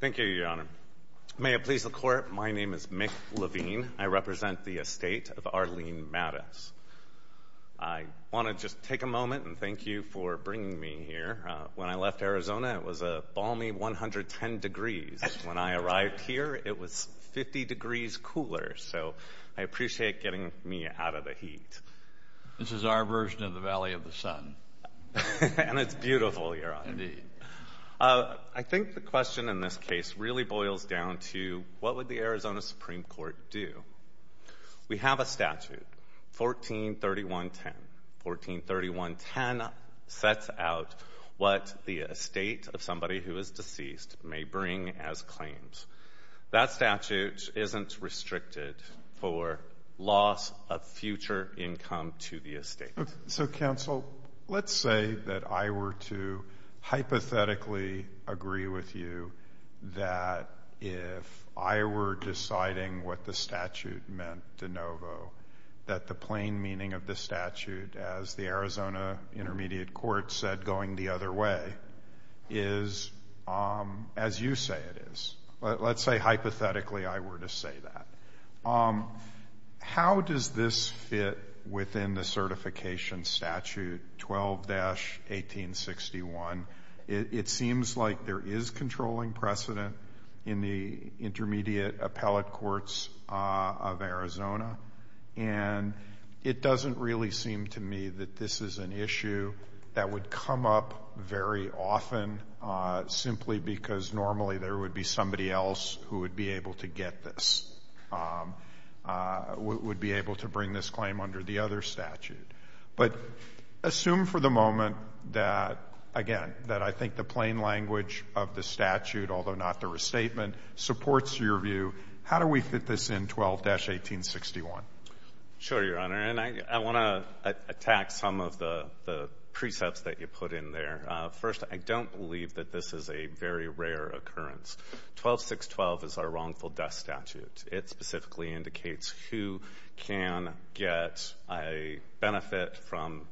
Thank you, Your Honor. May it please the Court, my name is Mick Levine. I represent the estate of Arlene Matus. I want to just take a moment and thank you for bringing me here. When I left Arizona, it was a balmy 110 degrees. When I arrived here, it was 50 degrees cooler, so I appreciate getting me out of the heat. This is our version of the Valley of the Sun. And it's beautiful, Your Honor. Indeed. I think the question in this case really boils down to what would the Arizona Supreme Court do? We have a statute, 1431.10. 1431.10 sets out what the estate of somebody who is deceased may bring as claims. That statute isn't restricted for loss of future income to the estate. So, counsel, let's say that I were to hypothetically agree with you that if I were deciding what the statute meant de novo, that the plain meaning of the statute as the Arizona Intermediate Court said going the other way is as you say it is. Let's hypothetically say I were to say that. How does this fit within the certification statute 12-1861? It seems like there is controlling precedent in the intermediate appellate courts of Arizona. And it doesn't really seem to me that this is an issue that would come up very often simply because normally there would be somebody else who would be able to get this, would be able to bring this claim under the other statute. But assume for the moment that, again, that I think the plain language of the statute, although not the restatement, supports your view. How do we fit this in 12-1861? Sure, Your Honor. And I want to attack some of the precepts that you put in there. First, I don't believe that this is a very rare occurrence. 12-612 is our wrongful death statute. It specifically indicates who can get a benefit from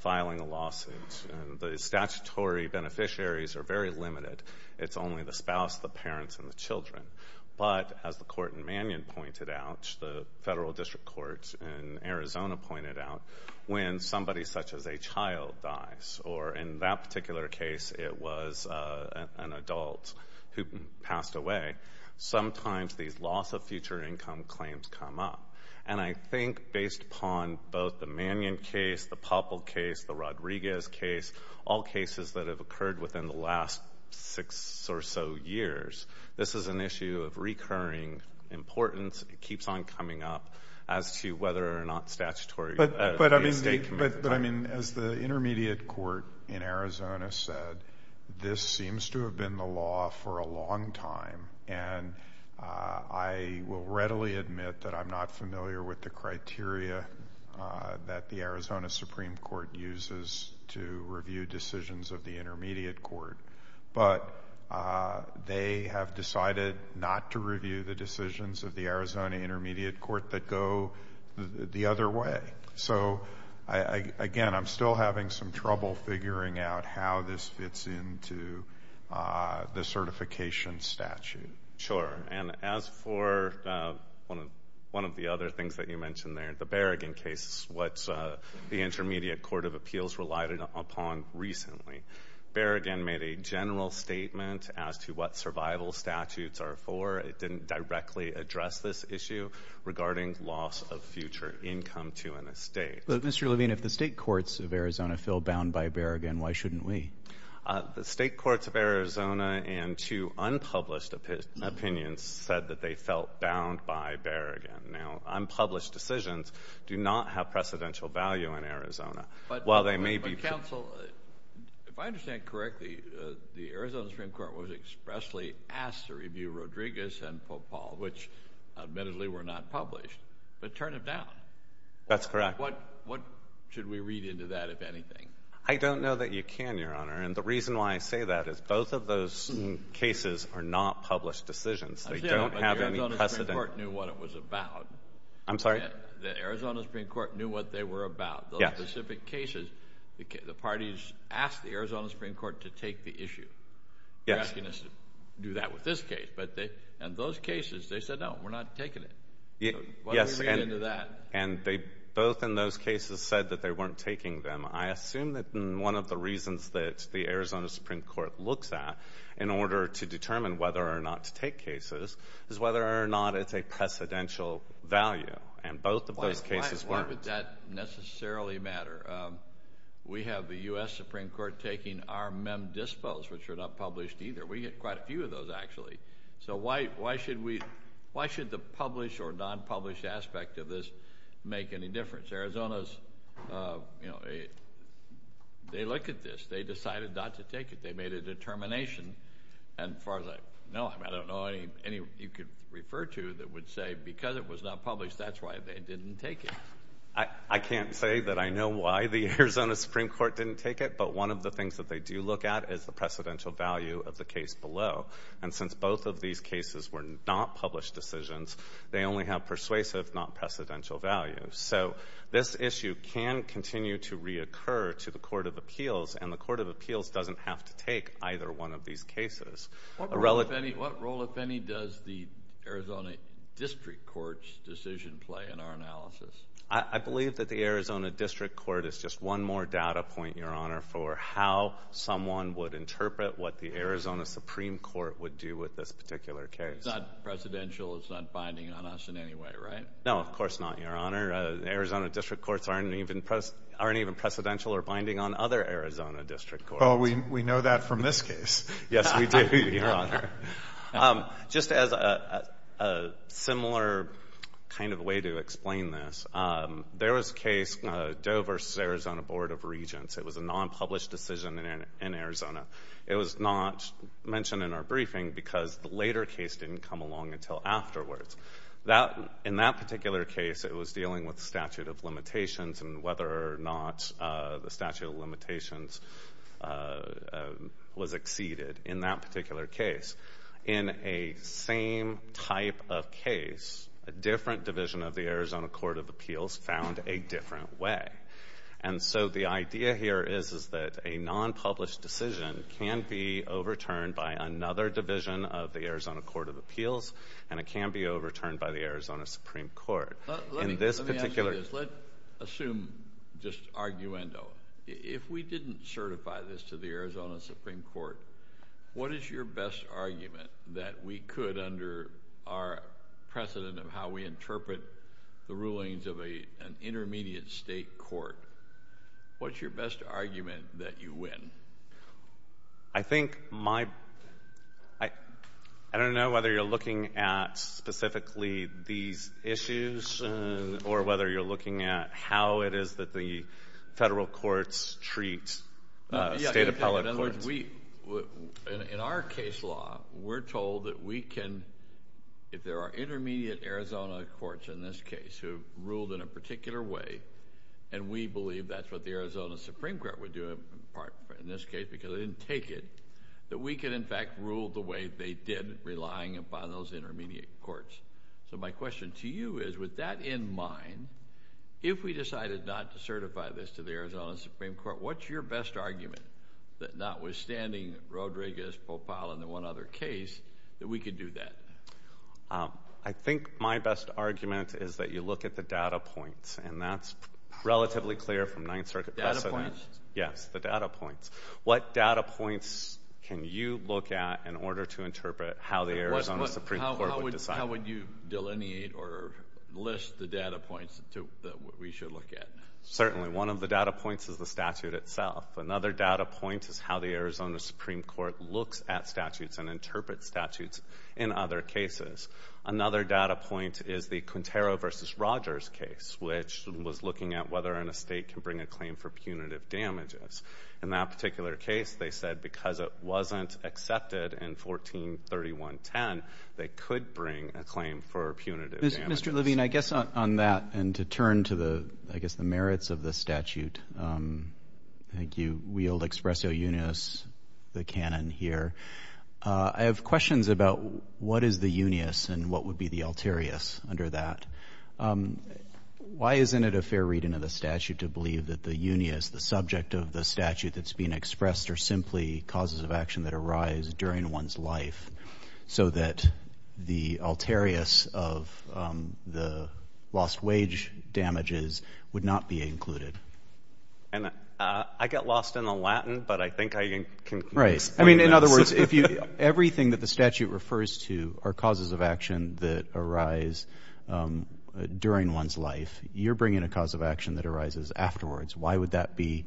filing a lawsuit. The statutory beneficiaries are very limited. It's only the spouse, the parents, and the children. But as the Court in Manion pointed out, the Federal District Courts in Arizona pointed out, when somebody such as a child dies or in that particular case it was an adult who passed away, sometimes these loss of future income claims come up. And I think based upon both the Manion case, the Poppled case, the Rodriguez case, all cases that have occurred within the last six or so years, this is an issue of recurring importance. It keeps on coming up as to whether or not statutory... But I mean, as the Intermediate Court in Arizona said, this seems to have been the law for a long time. And I will readily admit that I'm not familiar with the criteria that the Arizona Supreme Court uses to review decisions of the Intermediate Court. But they have decided not to review the decisions of the Arizona Intermediate Court that go the other way. So, again, I'm still having some trouble figuring out how this fits into the certification statute. Sure. And as for one of the other things that you mentioned there, the Berrigan case is what the Intermediate Court of Appeals relied upon recently. Berrigan made a general statement as to what survival statutes are for. It didn't directly address this issue regarding loss of future income to an estate. But, Mr. Levine, if the state courts of Arizona feel bound by Berrigan, why shouldn't we? The state courts of Arizona and two unpublished opinions said that they felt bound by Berrigan. Now, unpublished decisions do not have precedential value in Arizona. But, counsel, if I understand correctly, the Arizona Supreme Court was expressly asked to review Rodriguez and Popal, which admittedly were not published. But turn it down. That's correct. What should we read into that, if anything? I don't know that you can, Your Honor. And the reason why I say that is both of those cases are not published decisions. They don't have any precedent. But the Arizona Supreme Court knew what it was about. I'm sorry? The Arizona Supreme Court knew what they were about. Those specific cases, the parties asked the Arizona Supreme Court to take the issue. Yes. They're asking us to do that with this case. But in those cases, they said, no, we're not taking it. So what's the reason to that? And both in those cases said that they weren't taking them. I assume that one of the reasons that the Arizona Supreme Court looks at in order to determine whether or not to take cases is whether or not it's a precedential value. And both of those cases weren't. Why would that necessarily matter? We have the U.S. Supreme Court taking our mem dispos, which are not published either. We get quite a few of those, actually. So why should the published or non-published aspect of this make any difference? Arizona's, you know, they look at this. They decided not to take it. They made a determination. And as far as I know, I don't know any you could refer to that would say, because it was not published, that's why they didn't take it. I can't say that I know why the Arizona Supreme Court didn't take it. But one of the things that they do look at is the precedential value of the case below. And since both of these cases were not published decisions, they only have persuasive, not precedential value. So this issue can continue to reoccur to the Court of Appeals. And the Court of Appeals doesn't have to take either one of cases. What role, if any, does the Arizona District Court's decision play in our analysis? I believe that the Arizona District Court is just one more data point, Your Honor, for how someone would interpret what the Arizona Supreme Court would do with this particular case. It's not precedential. It's not binding on us in any way, right? No, of course not, Your Honor. Arizona District Courts aren't even precedential or binding on other Arizona District Courts. We know that from this case. Yes, we do, Your Honor. Just as a similar kind of way to explain this, there was a case, Doe v. Arizona Board of Regents. It was a non-published decision in Arizona. It was not mentioned in our briefing because the later case didn't come along until afterwards. In that particular case, it was dealing with statute of limitations and whether or not the statute of limitations was exceeded in that particular case. In a same type of case, a different division of the Arizona Court of Appeals found a different way. And so the idea here is that a non-published decision can be overturned by another division of the Arizona Court of Appeals, and it can be overturned by the Arizona Supreme Court. Let me ask you this. Let's assume just arguendo. If we didn't certify this to the Arizona Supreme Court, what is your best argument that we could, under our precedent of how we interpret the rulings of an intermediate state court, what's your best argument that you win? I don't know whether you're looking at specifically these issues or whether you're looking at how it is that the federal courts treat state appellate courts. In our case law, we're told that we can, if there are intermediate Arizona courts in this case who ruled in a particular way, and we believe that's what the Arizona Supreme Court would do in this case because they didn't take it, that we could in fact rule the way they did, relying upon those intermediate courts. So my question to you is, with that in mind, if we decided not to certify this to the Arizona Supreme Court, what's your best argument that notwithstanding Rodriguez-Popal and the one other case, that we could do that? I think my best argument is that you look at the data points, and that's relatively clear from Ninth Circuit precedent. Data points? Yes, the data points. What data points can you look at in order to interpret how the Arizona Supreme Court would decide? How would you delineate or list the data points that we should look at? Certainly, one of the data points is the statute itself. Another data point is how the Arizona Supreme Court looks at statutes and interprets statutes in other cases. Another data point is the Quintero v. Rogers case, which was looking at whether an estate can bring a claim for punitive damages. In that particular case, they said because it wasn't accepted in 143110, they could bring a claim for punitive damages. Mr. Levine, I guess on that and to turn to the, I guess, the merits of the statute, I think you wield expresso unius, the canon here. I have questions about what is the unius and what would be the alterius under that. Why isn't it a fair reading of the statute to believe that the unius, the subject of the statute that's being expressed, are simply causes of action that arise during one's life so that the alterius of the lost wage damages would not be included? I get lost in the Latin, but I think I can explain this. In other words, everything that the statute refers to are causes of action that arise during one's life. You're bringing a cause of action that arises afterwards. Why would that be?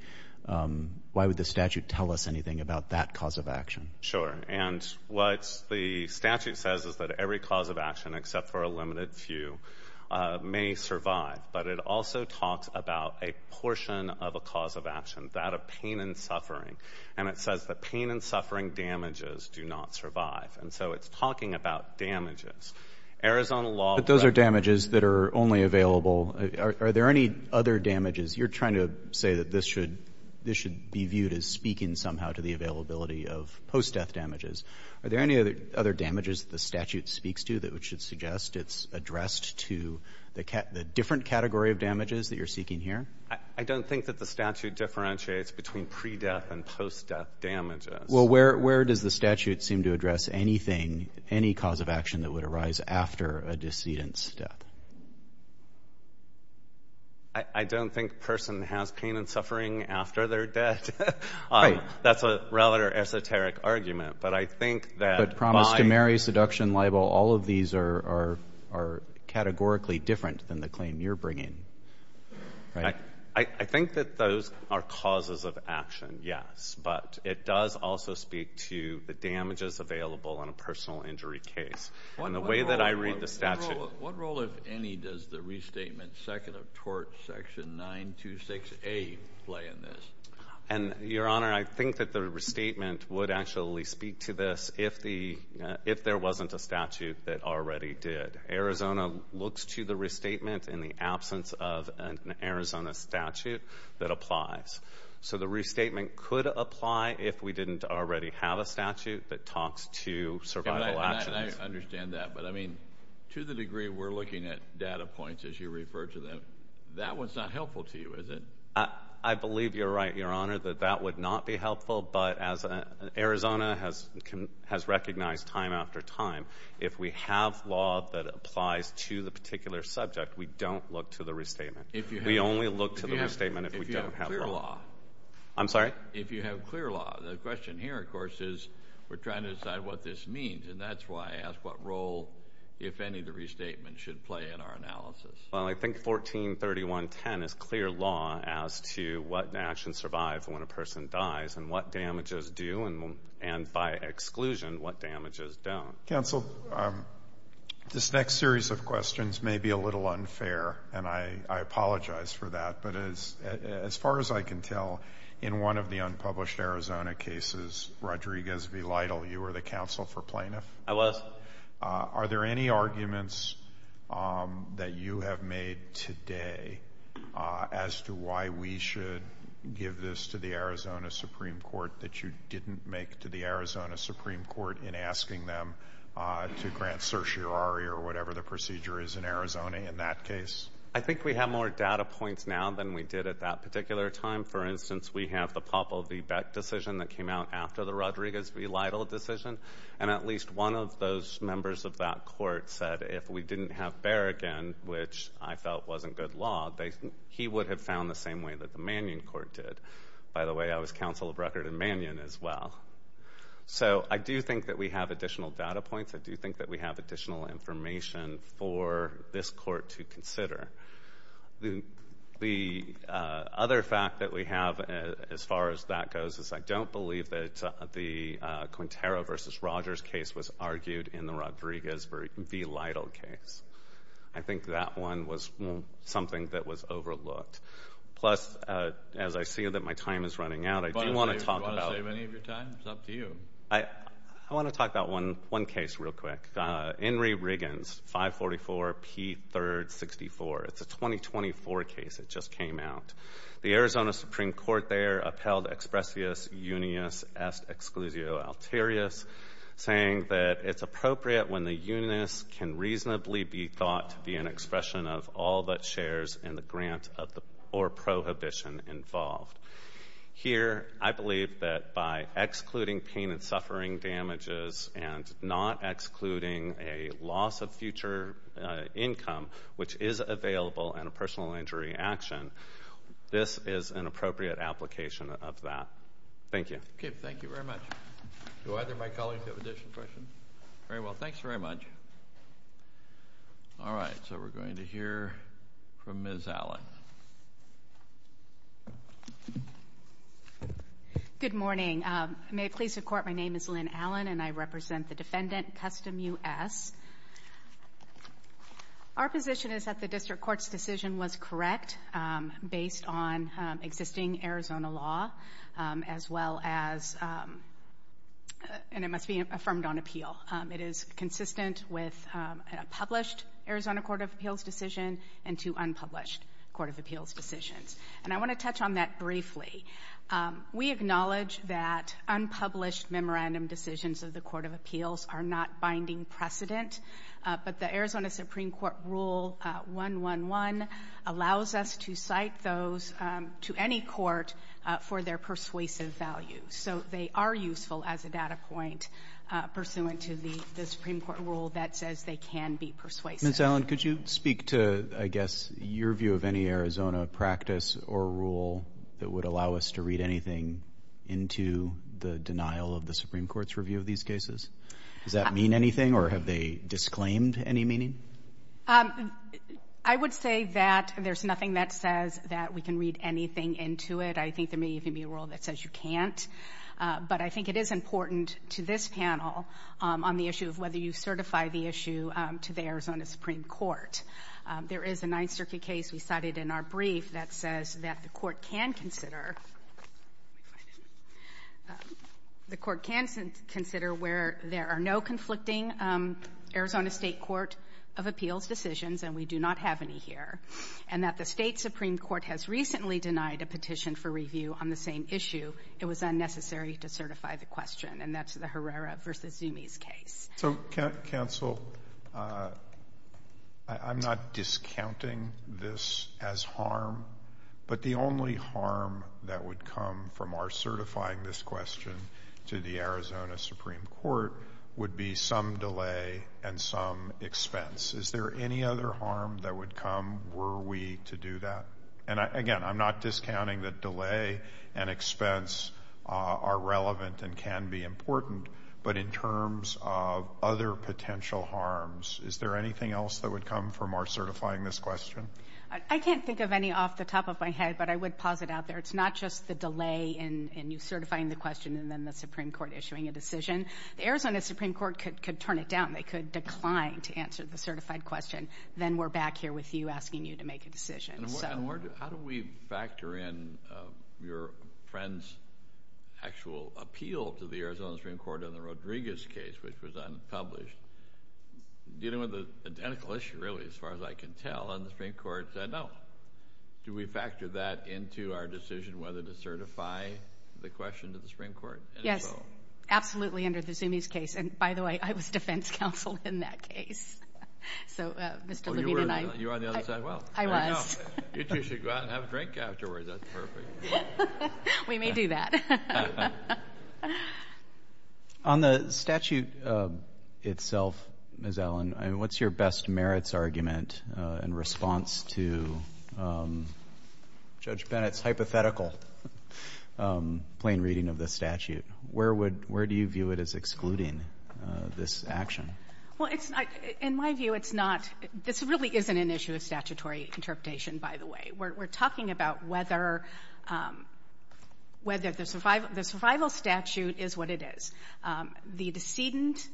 Why would the statute tell us anything about that cause of action? Sure. And what the statute says is that every cause of action, except for a limited few, may survive. But it also talks about a portion of a cause of action, that of pain and suffering. And it says that pain and suffering damages do not survive. And so it's talking about damages. Arizona law ---- Roberts, but those are damages that are only available. Are there any other damages? You're trying to say that this should be viewed as speaking somehow to the availability of post-death damages. Are there any other damages that the statute speaks to that would suggest it's addressed to the different category of damages that you're seeking here? I don't think that the statute differentiates between pre-death and post-death damages. Well, where does the statute seem to address anything, any cause of action that would arise after a decedent's death? I don't think a person has pain and suffering after their death. Right. That's a rather esoteric argument. But I think that by ---- But promise to marry, seduction, libel, all of these are categorically different than the claim you're bringing. Right? I think that those are causes of action, yes. But it does also speak to the damages available on a personal injury case. And the way that I read the statute ---- What role, if any, does the restatement second of tort section 926A play in this? And, Your Honor, I think that the restatement would actually speak to this if there wasn't a statute that already did. Arizona looks to the restatement in the absence of an Arizona statute that applies. So the restatement could apply if we didn't already have a statute that talks to survival actions. And I understand that. But, I mean, to the degree we're looking at data points as you refer to them, that one's not helpful to you, is it? I believe you're right, Your Honor, that that would not be helpful. But as Arizona has recognized time after time, if we have law that applies to the particular subject, we don't look to the restatement. We only look to the restatement if we don't have law. If you have clear law. I'm sorry? If you have clear law. The question here, of course, is we're trying to decide what this means. And that's why I ask what role, if any, the restatement should play in our analysis. Well, I think 143110 is clear law as to what actions survive when a person dies and what damages do and, by exclusion, what damages don't. Counsel, this next series of questions may be a little unfair. And I apologize for that. But as far as I can tell, in one of the unpublished Arizona cases, Rodriguez v. Lytle, you were the counsel for plaintiff? I was. Are there any arguments that you have made today as to why we should give this to the Arizona Supreme Court in asking them to grant certiorari or whatever the procedure is in Arizona in that case? I think we have more data points now than we did at that particular time. For instance, we have the Poppel v. Beck decision that came out after the Rodriguez v. Lytle decision. And at least one of those members of that court said if we didn't have Berrigan, which I felt wasn't good law, he would have found the same way that the Mannion Court did. By the way, I was counsel of record in Mannion as well. So I do think that we have additional data points. I do think that we have additional information for this court to consider. The other fact that we have as far as that goes is I don't believe that the Quintero v. Rogers case was argued in the Rodriguez v. Lytle case. I think that one was something that was overlooked. Plus, as I see that my time is running out, I do want to talk about... Do you want to save any of your time? It's up to you. I want to talk about one case real quick. Henry Riggins, 544 P. 3rd 64. It's a 2024 case that just came out. The Arizona Supreme Court there upheld expressius unius est exclusio alterius, saying that it's appropriate when the unius can reasonably be thought to be an expression of all that shares in the grant or prohibition involved. Here, I believe that by excluding pain and suffering damages and not excluding a loss of future income, which is available in a personal injury action, this is an appropriate application of that. Thank you. Okay. Thank you very much. Do either of my colleagues have additional questions? Very well. Thanks very much. All right. So we're going to hear from Ms. Allen. Good morning. May it please the court, my name is Lynn Allen and I represent the defendant, Custom U.S. Our position is that the district court's decision was correct based on existing Arizona law, as well as... And it must be affirmed on appeal. It is consistent with a published Arizona court of appeals decision and two unpublished court of appeals decisions. And I want to touch on that briefly. We acknowledge that unpublished memorandum decisions of the court of appeals are not binding precedent, but the Arizona Supreme Court Rule 111 allows us to cite those to any court for their persuasive value. So they are useful as a data point pursuant to the Supreme Court Rule that says they can be persuasive. Ms. Allen, could you speak to, I guess, your view of any Arizona practice or rule that would allow us to read anything into the denial of the Supreme Court's review of these cases? Does that mean anything or have they disclaimed any meaning? I would say that there's nothing that says that we can read anything into it. I think there may even be a rule that says you can't. But I think it is important to this panel on the issue of whether you certify the issue to the Arizona Supreme Court. There is a Ninth Circuit case we cited in our brief that says that the court can consider where there are no conflicting Arizona state court of appeals decisions, and we do not have any here, and that the state Supreme Court has recently denied a petition for review on the same issue. It was unnecessary to certify the question, and that's the Herrera v. Zumi's case. So, counsel, I'm not discounting this as harm, but the only harm that would come from our certifying this question to the Arizona Supreme Court would be some delay and some expense. Is there any other harm that would come were we to do that? And, again, I'm not discounting that delay and expense are relevant and can be important, but in terms of other potential harms, is there anything else that would come from our certifying this question? I can't think of any off the top of my head, but I would pause it out there. It's not just the delay in you certifying the question and then the Supreme Court issuing a decision. The Arizona Supreme Court could turn it down. They could decline to answer the certified question. Then we're back here with you asking you to make a decision. And how do we factor in your friend's actual appeal to the Arizona Supreme Court on the Rodriguez case, which was unpublished? Dealing with an identical issue, really, as far as I can tell, and the Supreme Court said no. Do we factor that into our decision whether to certify the question to the Supreme Court? Yes, absolutely, under the Zumi's case. And by the way, I was defense counsel in that case. So, Mr. Levine and I. You were on the other side as well. I was. You two should go out and have a drink afterwards. That's perfect. We may do that. On the statute itself, Ms. Allen, what's your best merits argument in response to Judge Bennett's hypothetical plain reading of the statute? Where do you view it as excluding this action? Well, in my view, it's not. This really isn't an issue of statutory interpretation, by the way. We're talking about whether the survival statute is what it is. The decedent,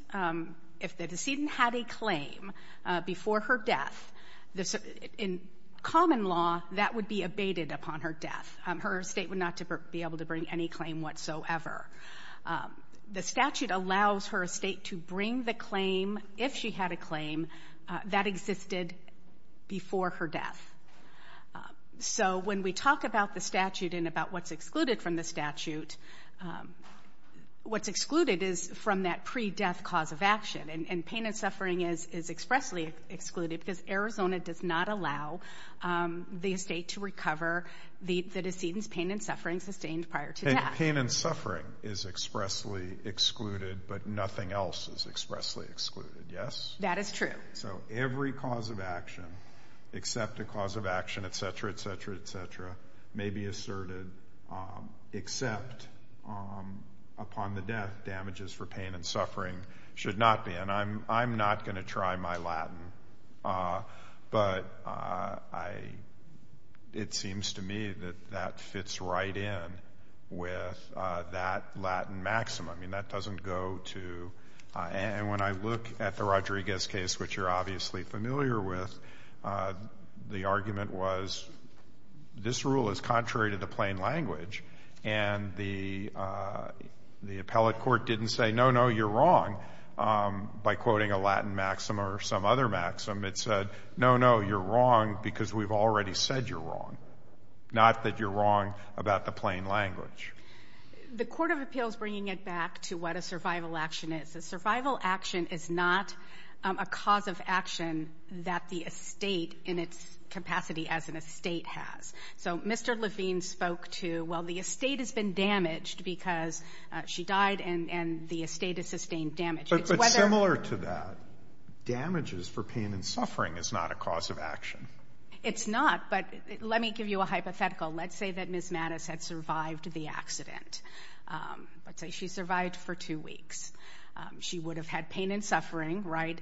if the decedent had a claim before her death, in common law, that would be abated upon her death. Her estate would not be able to bring any claim whatsoever. The statute allows her estate to bring the claim, if she had a claim, that existed before her death. So, when we talk about the statute and about what's excluded from the statute, what's excluded is from that pre-death cause of action. And pain and suffering is expressly excluded because Arizona does not allow the estate to recover the decedent's pain and suffering sustained prior to death. Pain and suffering is expressly excluded, but nothing else is expressly excluded, yes? That is true. So, every cause of action, except a cause of action, et cetera, et cetera, et cetera, may be asserted, except upon the death. Damages for pain and suffering should not be. I'm not going to try my Latin, but it seems to me that that fits right in with that Latin maximum. I mean, that doesn't go to — and when I look at the Rodriguez case, which you're obviously familiar with, the argument was this rule is contrary to the plain language, and the appellate court didn't say no, no, you're wrong. By quoting a Latin maxim or some other maxim, it said, no, no, you're wrong because we've already said you're wrong, not that you're wrong about the plain language. The court of appeal is bringing it back to what a survival action is. A survival action is not a cause of action that the estate in its capacity as an estate has. So Mr. Levine spoke to, well, the estate has been damaged because she died and the estate is sustained damage. But similar to that, damages for pain and suffering is not a cause of action. It's not, but let me give you a hypothetical. Let's say that Ms. Mattis had survived the accident. Let's say she survived for two weeks. She would have had pain and suffering, right?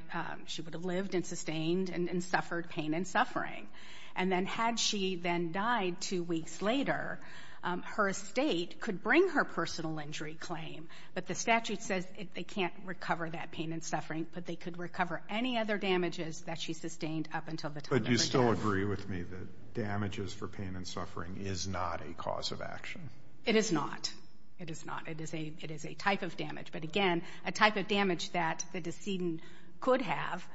She would have lived and sustained and suffered pain and suffering. And then had she then died two weeks later, her estate could bring her personal injury claim. But the statute says they can't recover that pain and suffering, but they could recover any other damages that she sustained up until the time of her death. But you still agree with me that damages for pain and suffering is not a cause of action? It is not. It is not. It is a type of damage. But again, a type of damage that the decedent could have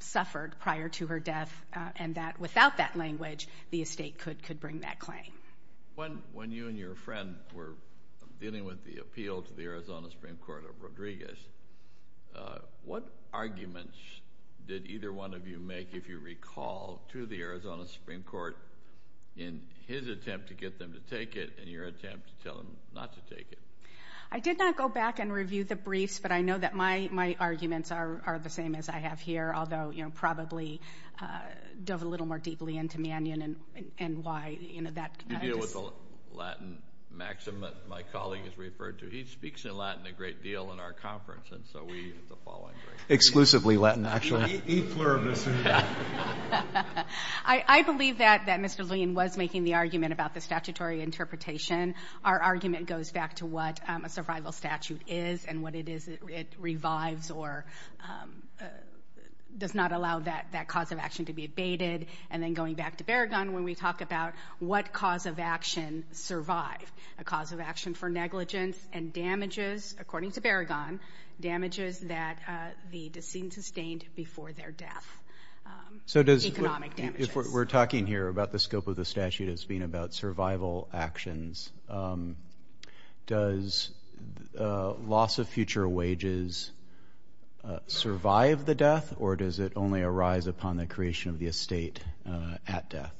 suffered prior to her death and that without that language, the estate could bring that claim. When you and your friend were dealing with the appeal to the Arizona Supreme Court of Rodriguez, what arguments did either one of you make, if you recall, to the Arizona Supreme Court in his attempt to get them to take it and your attempt to tell them not to take it? I did not go back and review the briefs, but I know that my arguments are the same as I have here, although, you know, probably dove a little more deeply into Mannion and why in that context. You deal with the Latin maxim that my colleague has referred to. He speaks in Latin a great deal in our conference, and so we have the following briefs. Exclusively Latin, actually. He flirted us into that. I believe that Mr. Lein was making the argument about the statutory interpretation. Our argument goes back to what a survival statute is and what it is that it revives or does not allow that cause of action to be abated. And then going back to Berrigan, when we talk about what cause of action survive, a cause of action for negligence and damages, according to Berrigan, damages that the decedent sustained before their death, economic damages. We're talking here about the scope of the statute as being about survival actions. Does loss of future wages survive the death, or does it only arise upon the creation of the estate at death?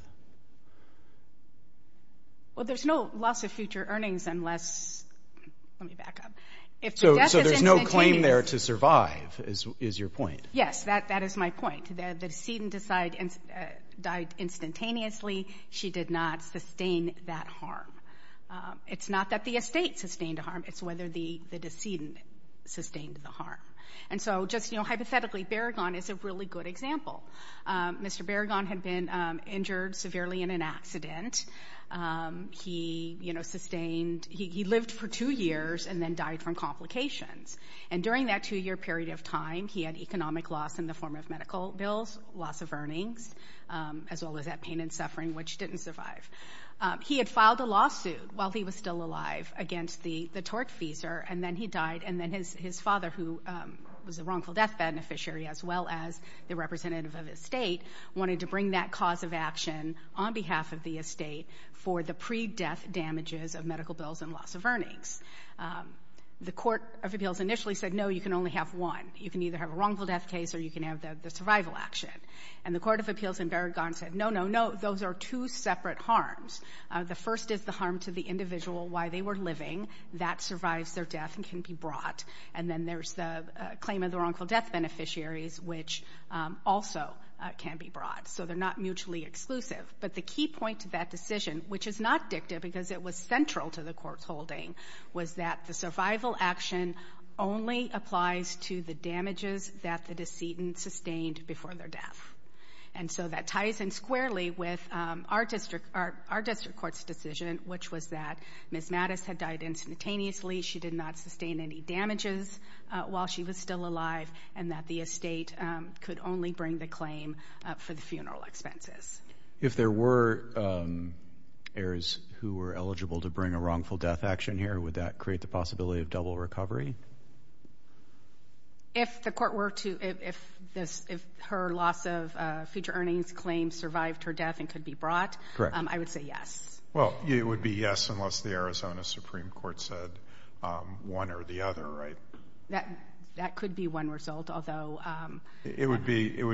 Well, there's no loss of future earnings unless, let me back up. So there's no claim there to survive, is your point? Yes, that is my point. The decedent died instantaneously. She did not sustain that harm. It's not that the estate sustained harm. It's whether the decedent sustained the harm. And so just, you know, hypothetically, Berrigan is a really good example. Mr. Berrigan had been injured severely in an accident. He, you know, sustained, he lived for two years and then died from complications. And during that two-year period of time, he had economic loss in the form of medical bills, loss of earnings, as well as that pain and suffering, which didn't survive. He had filed a lawsuit while he was still alive against the tortfeasor, and then he died. And then his father, who was a wrongful death beneficiary, as well as the representative of the estate, wanted to bring that cause of action on behalf of the estate for the pre-death damages of medical bills and loss of earnings. The Court of Appeals initially said, no, you can only have one. You can either have a wrongful death case or you can have the survival action. And the Court of Appeals in Berrigan said, no, no, no, those are two separate harms. The first is the harm to the individual while they were living. That survives their death and can be brought. And then there's the claim of the wrongful death beneficiaries, which also can be brought. So they're not mutually exclusive. But the key point to that decision, which is not dicta because it was central to the Court's holding, was that the survival action only applies to the damages that the decedent sustained before their death. And so that ties in squarely with our district court's decision, which was that Ms. Mattis had died instantaneously. She did not sustain any damages while she was still alive, and that the estate could only bring the claim for the funeral expenses. If there were heirs who were eligible to bring a wrongful death action here, would that create the possibility of double recovery? If the court were to, if her loss of future earnings claims survived her death and could be brought, I would say yes. Well, it would be yes unless the Arizona Supreme Court said one or the other, right? That could be one result, although... It would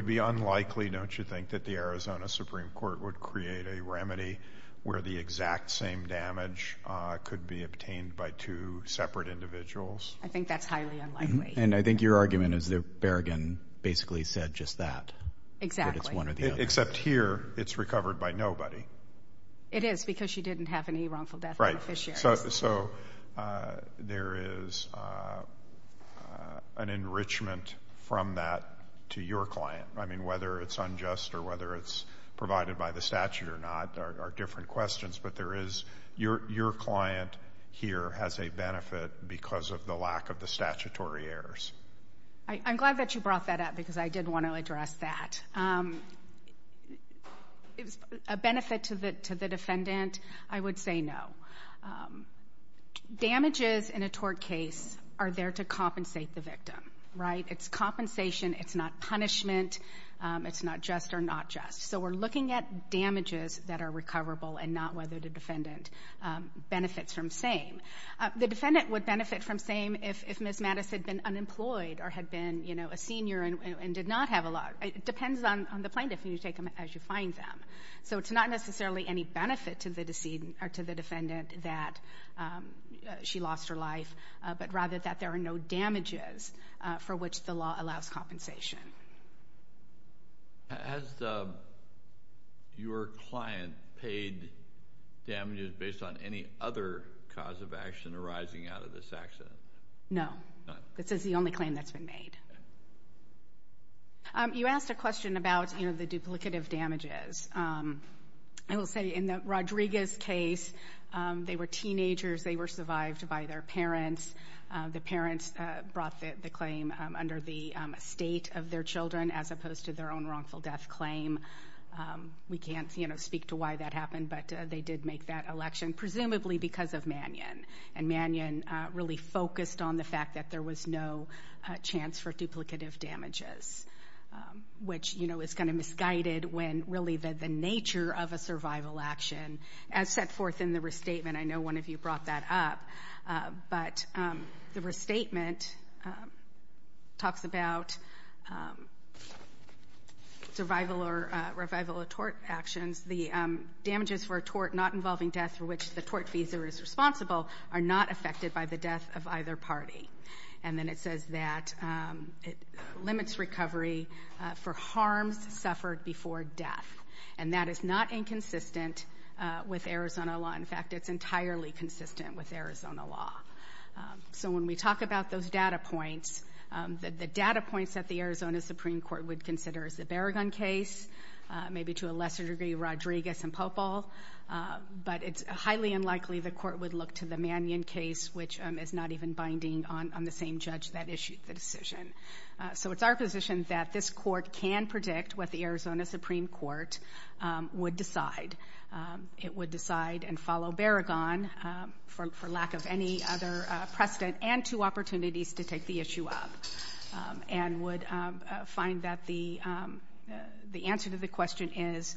be unlikely, don't you think, that the Arizona Supreme Court would create a remedy where the exact same damage could be obtained by two separate individuals? I think that's highly unlikely. And I think your argument is that Berrigan basically said just that. Exactly. Except here, it's recovered by nobody. It is because she didn't have any wrongful death beneficiaries. So there is an enrichment from that to your client. I mean, whether it's unjust or whether it's provided by the statute or not are different questions, but there is, your client here has a benefit because of the lack of the statutory errors. I'm glad that you brought that up because I did want to address that. If it's a benefit to the defendant, I would say no. Damages in a tort case are there to compensate the victim, right? It's compensation. It's not punishment. It's not just or not just. So we're looking at damages that are recoverable and not whether the defendant benefits from same. The defendant would benefit from same if Ms. Mattis had been unemployed or had been a senior and did not have a lot. It depends on the plaintiff. You take them as you find them. So it's not necessarily any benefit to the defendant that she lost her life, but rather that there are no damages for which the law allows compensation. Has your client paid damages based on any other cause of action arising out of this accident? No. This is the only claim that's been made. You asked a question about, you know, the duplicative damages. I will say in the Rodriguez case, they were teenagers. They were survived by their parents. The parents brought the claim under the estate of their children as opposed to their own wrongful death claim. We can't, you know, speak to why that happened, but they did make that election, presumably because of Mannion. And Mannion really focused on the fact that there was no chance for duplicative damages, which, you know, is kind of misguided when really the nature of a survival action as set forth in the restatement. I know one of you brought that up, but the restatement talks about survival or revival of tort actions. The damages for a tort not involving death for which the tort visa is responsible are not affected by the death of either party. And then it says that it limits recovery for harms suffered before death. And that is not inconsistent with Arizona law. In fact, it's entirely consistent with Arizona law. So when we talk about those data points, the data points that the Arizona Supreme Court would consider is the Barragan case, maybe to a lesser degree Rodriguez and Popol. But it's highly unlikely the court would look to the Mannion case, which is not even binding on the same judge that issued the decision. So it's our position that this court can predict what the Arizona Supreme Court would decide. It would decide and follow Barragan for lack of any other precedent and two opportunities to take the issue up. And would find that the answer to the question is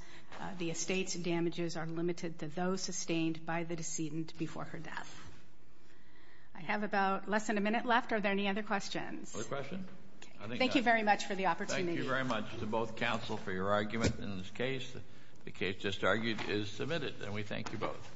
the estates and damages are limited to those sustained by the decedent before her death. I have about less than a minute left. Are there any other questions? Other questions? Thank you very much for the opportunity. Thank you very much to both counsel for your argument in this case. The case just argued is submitted, and we thank you both.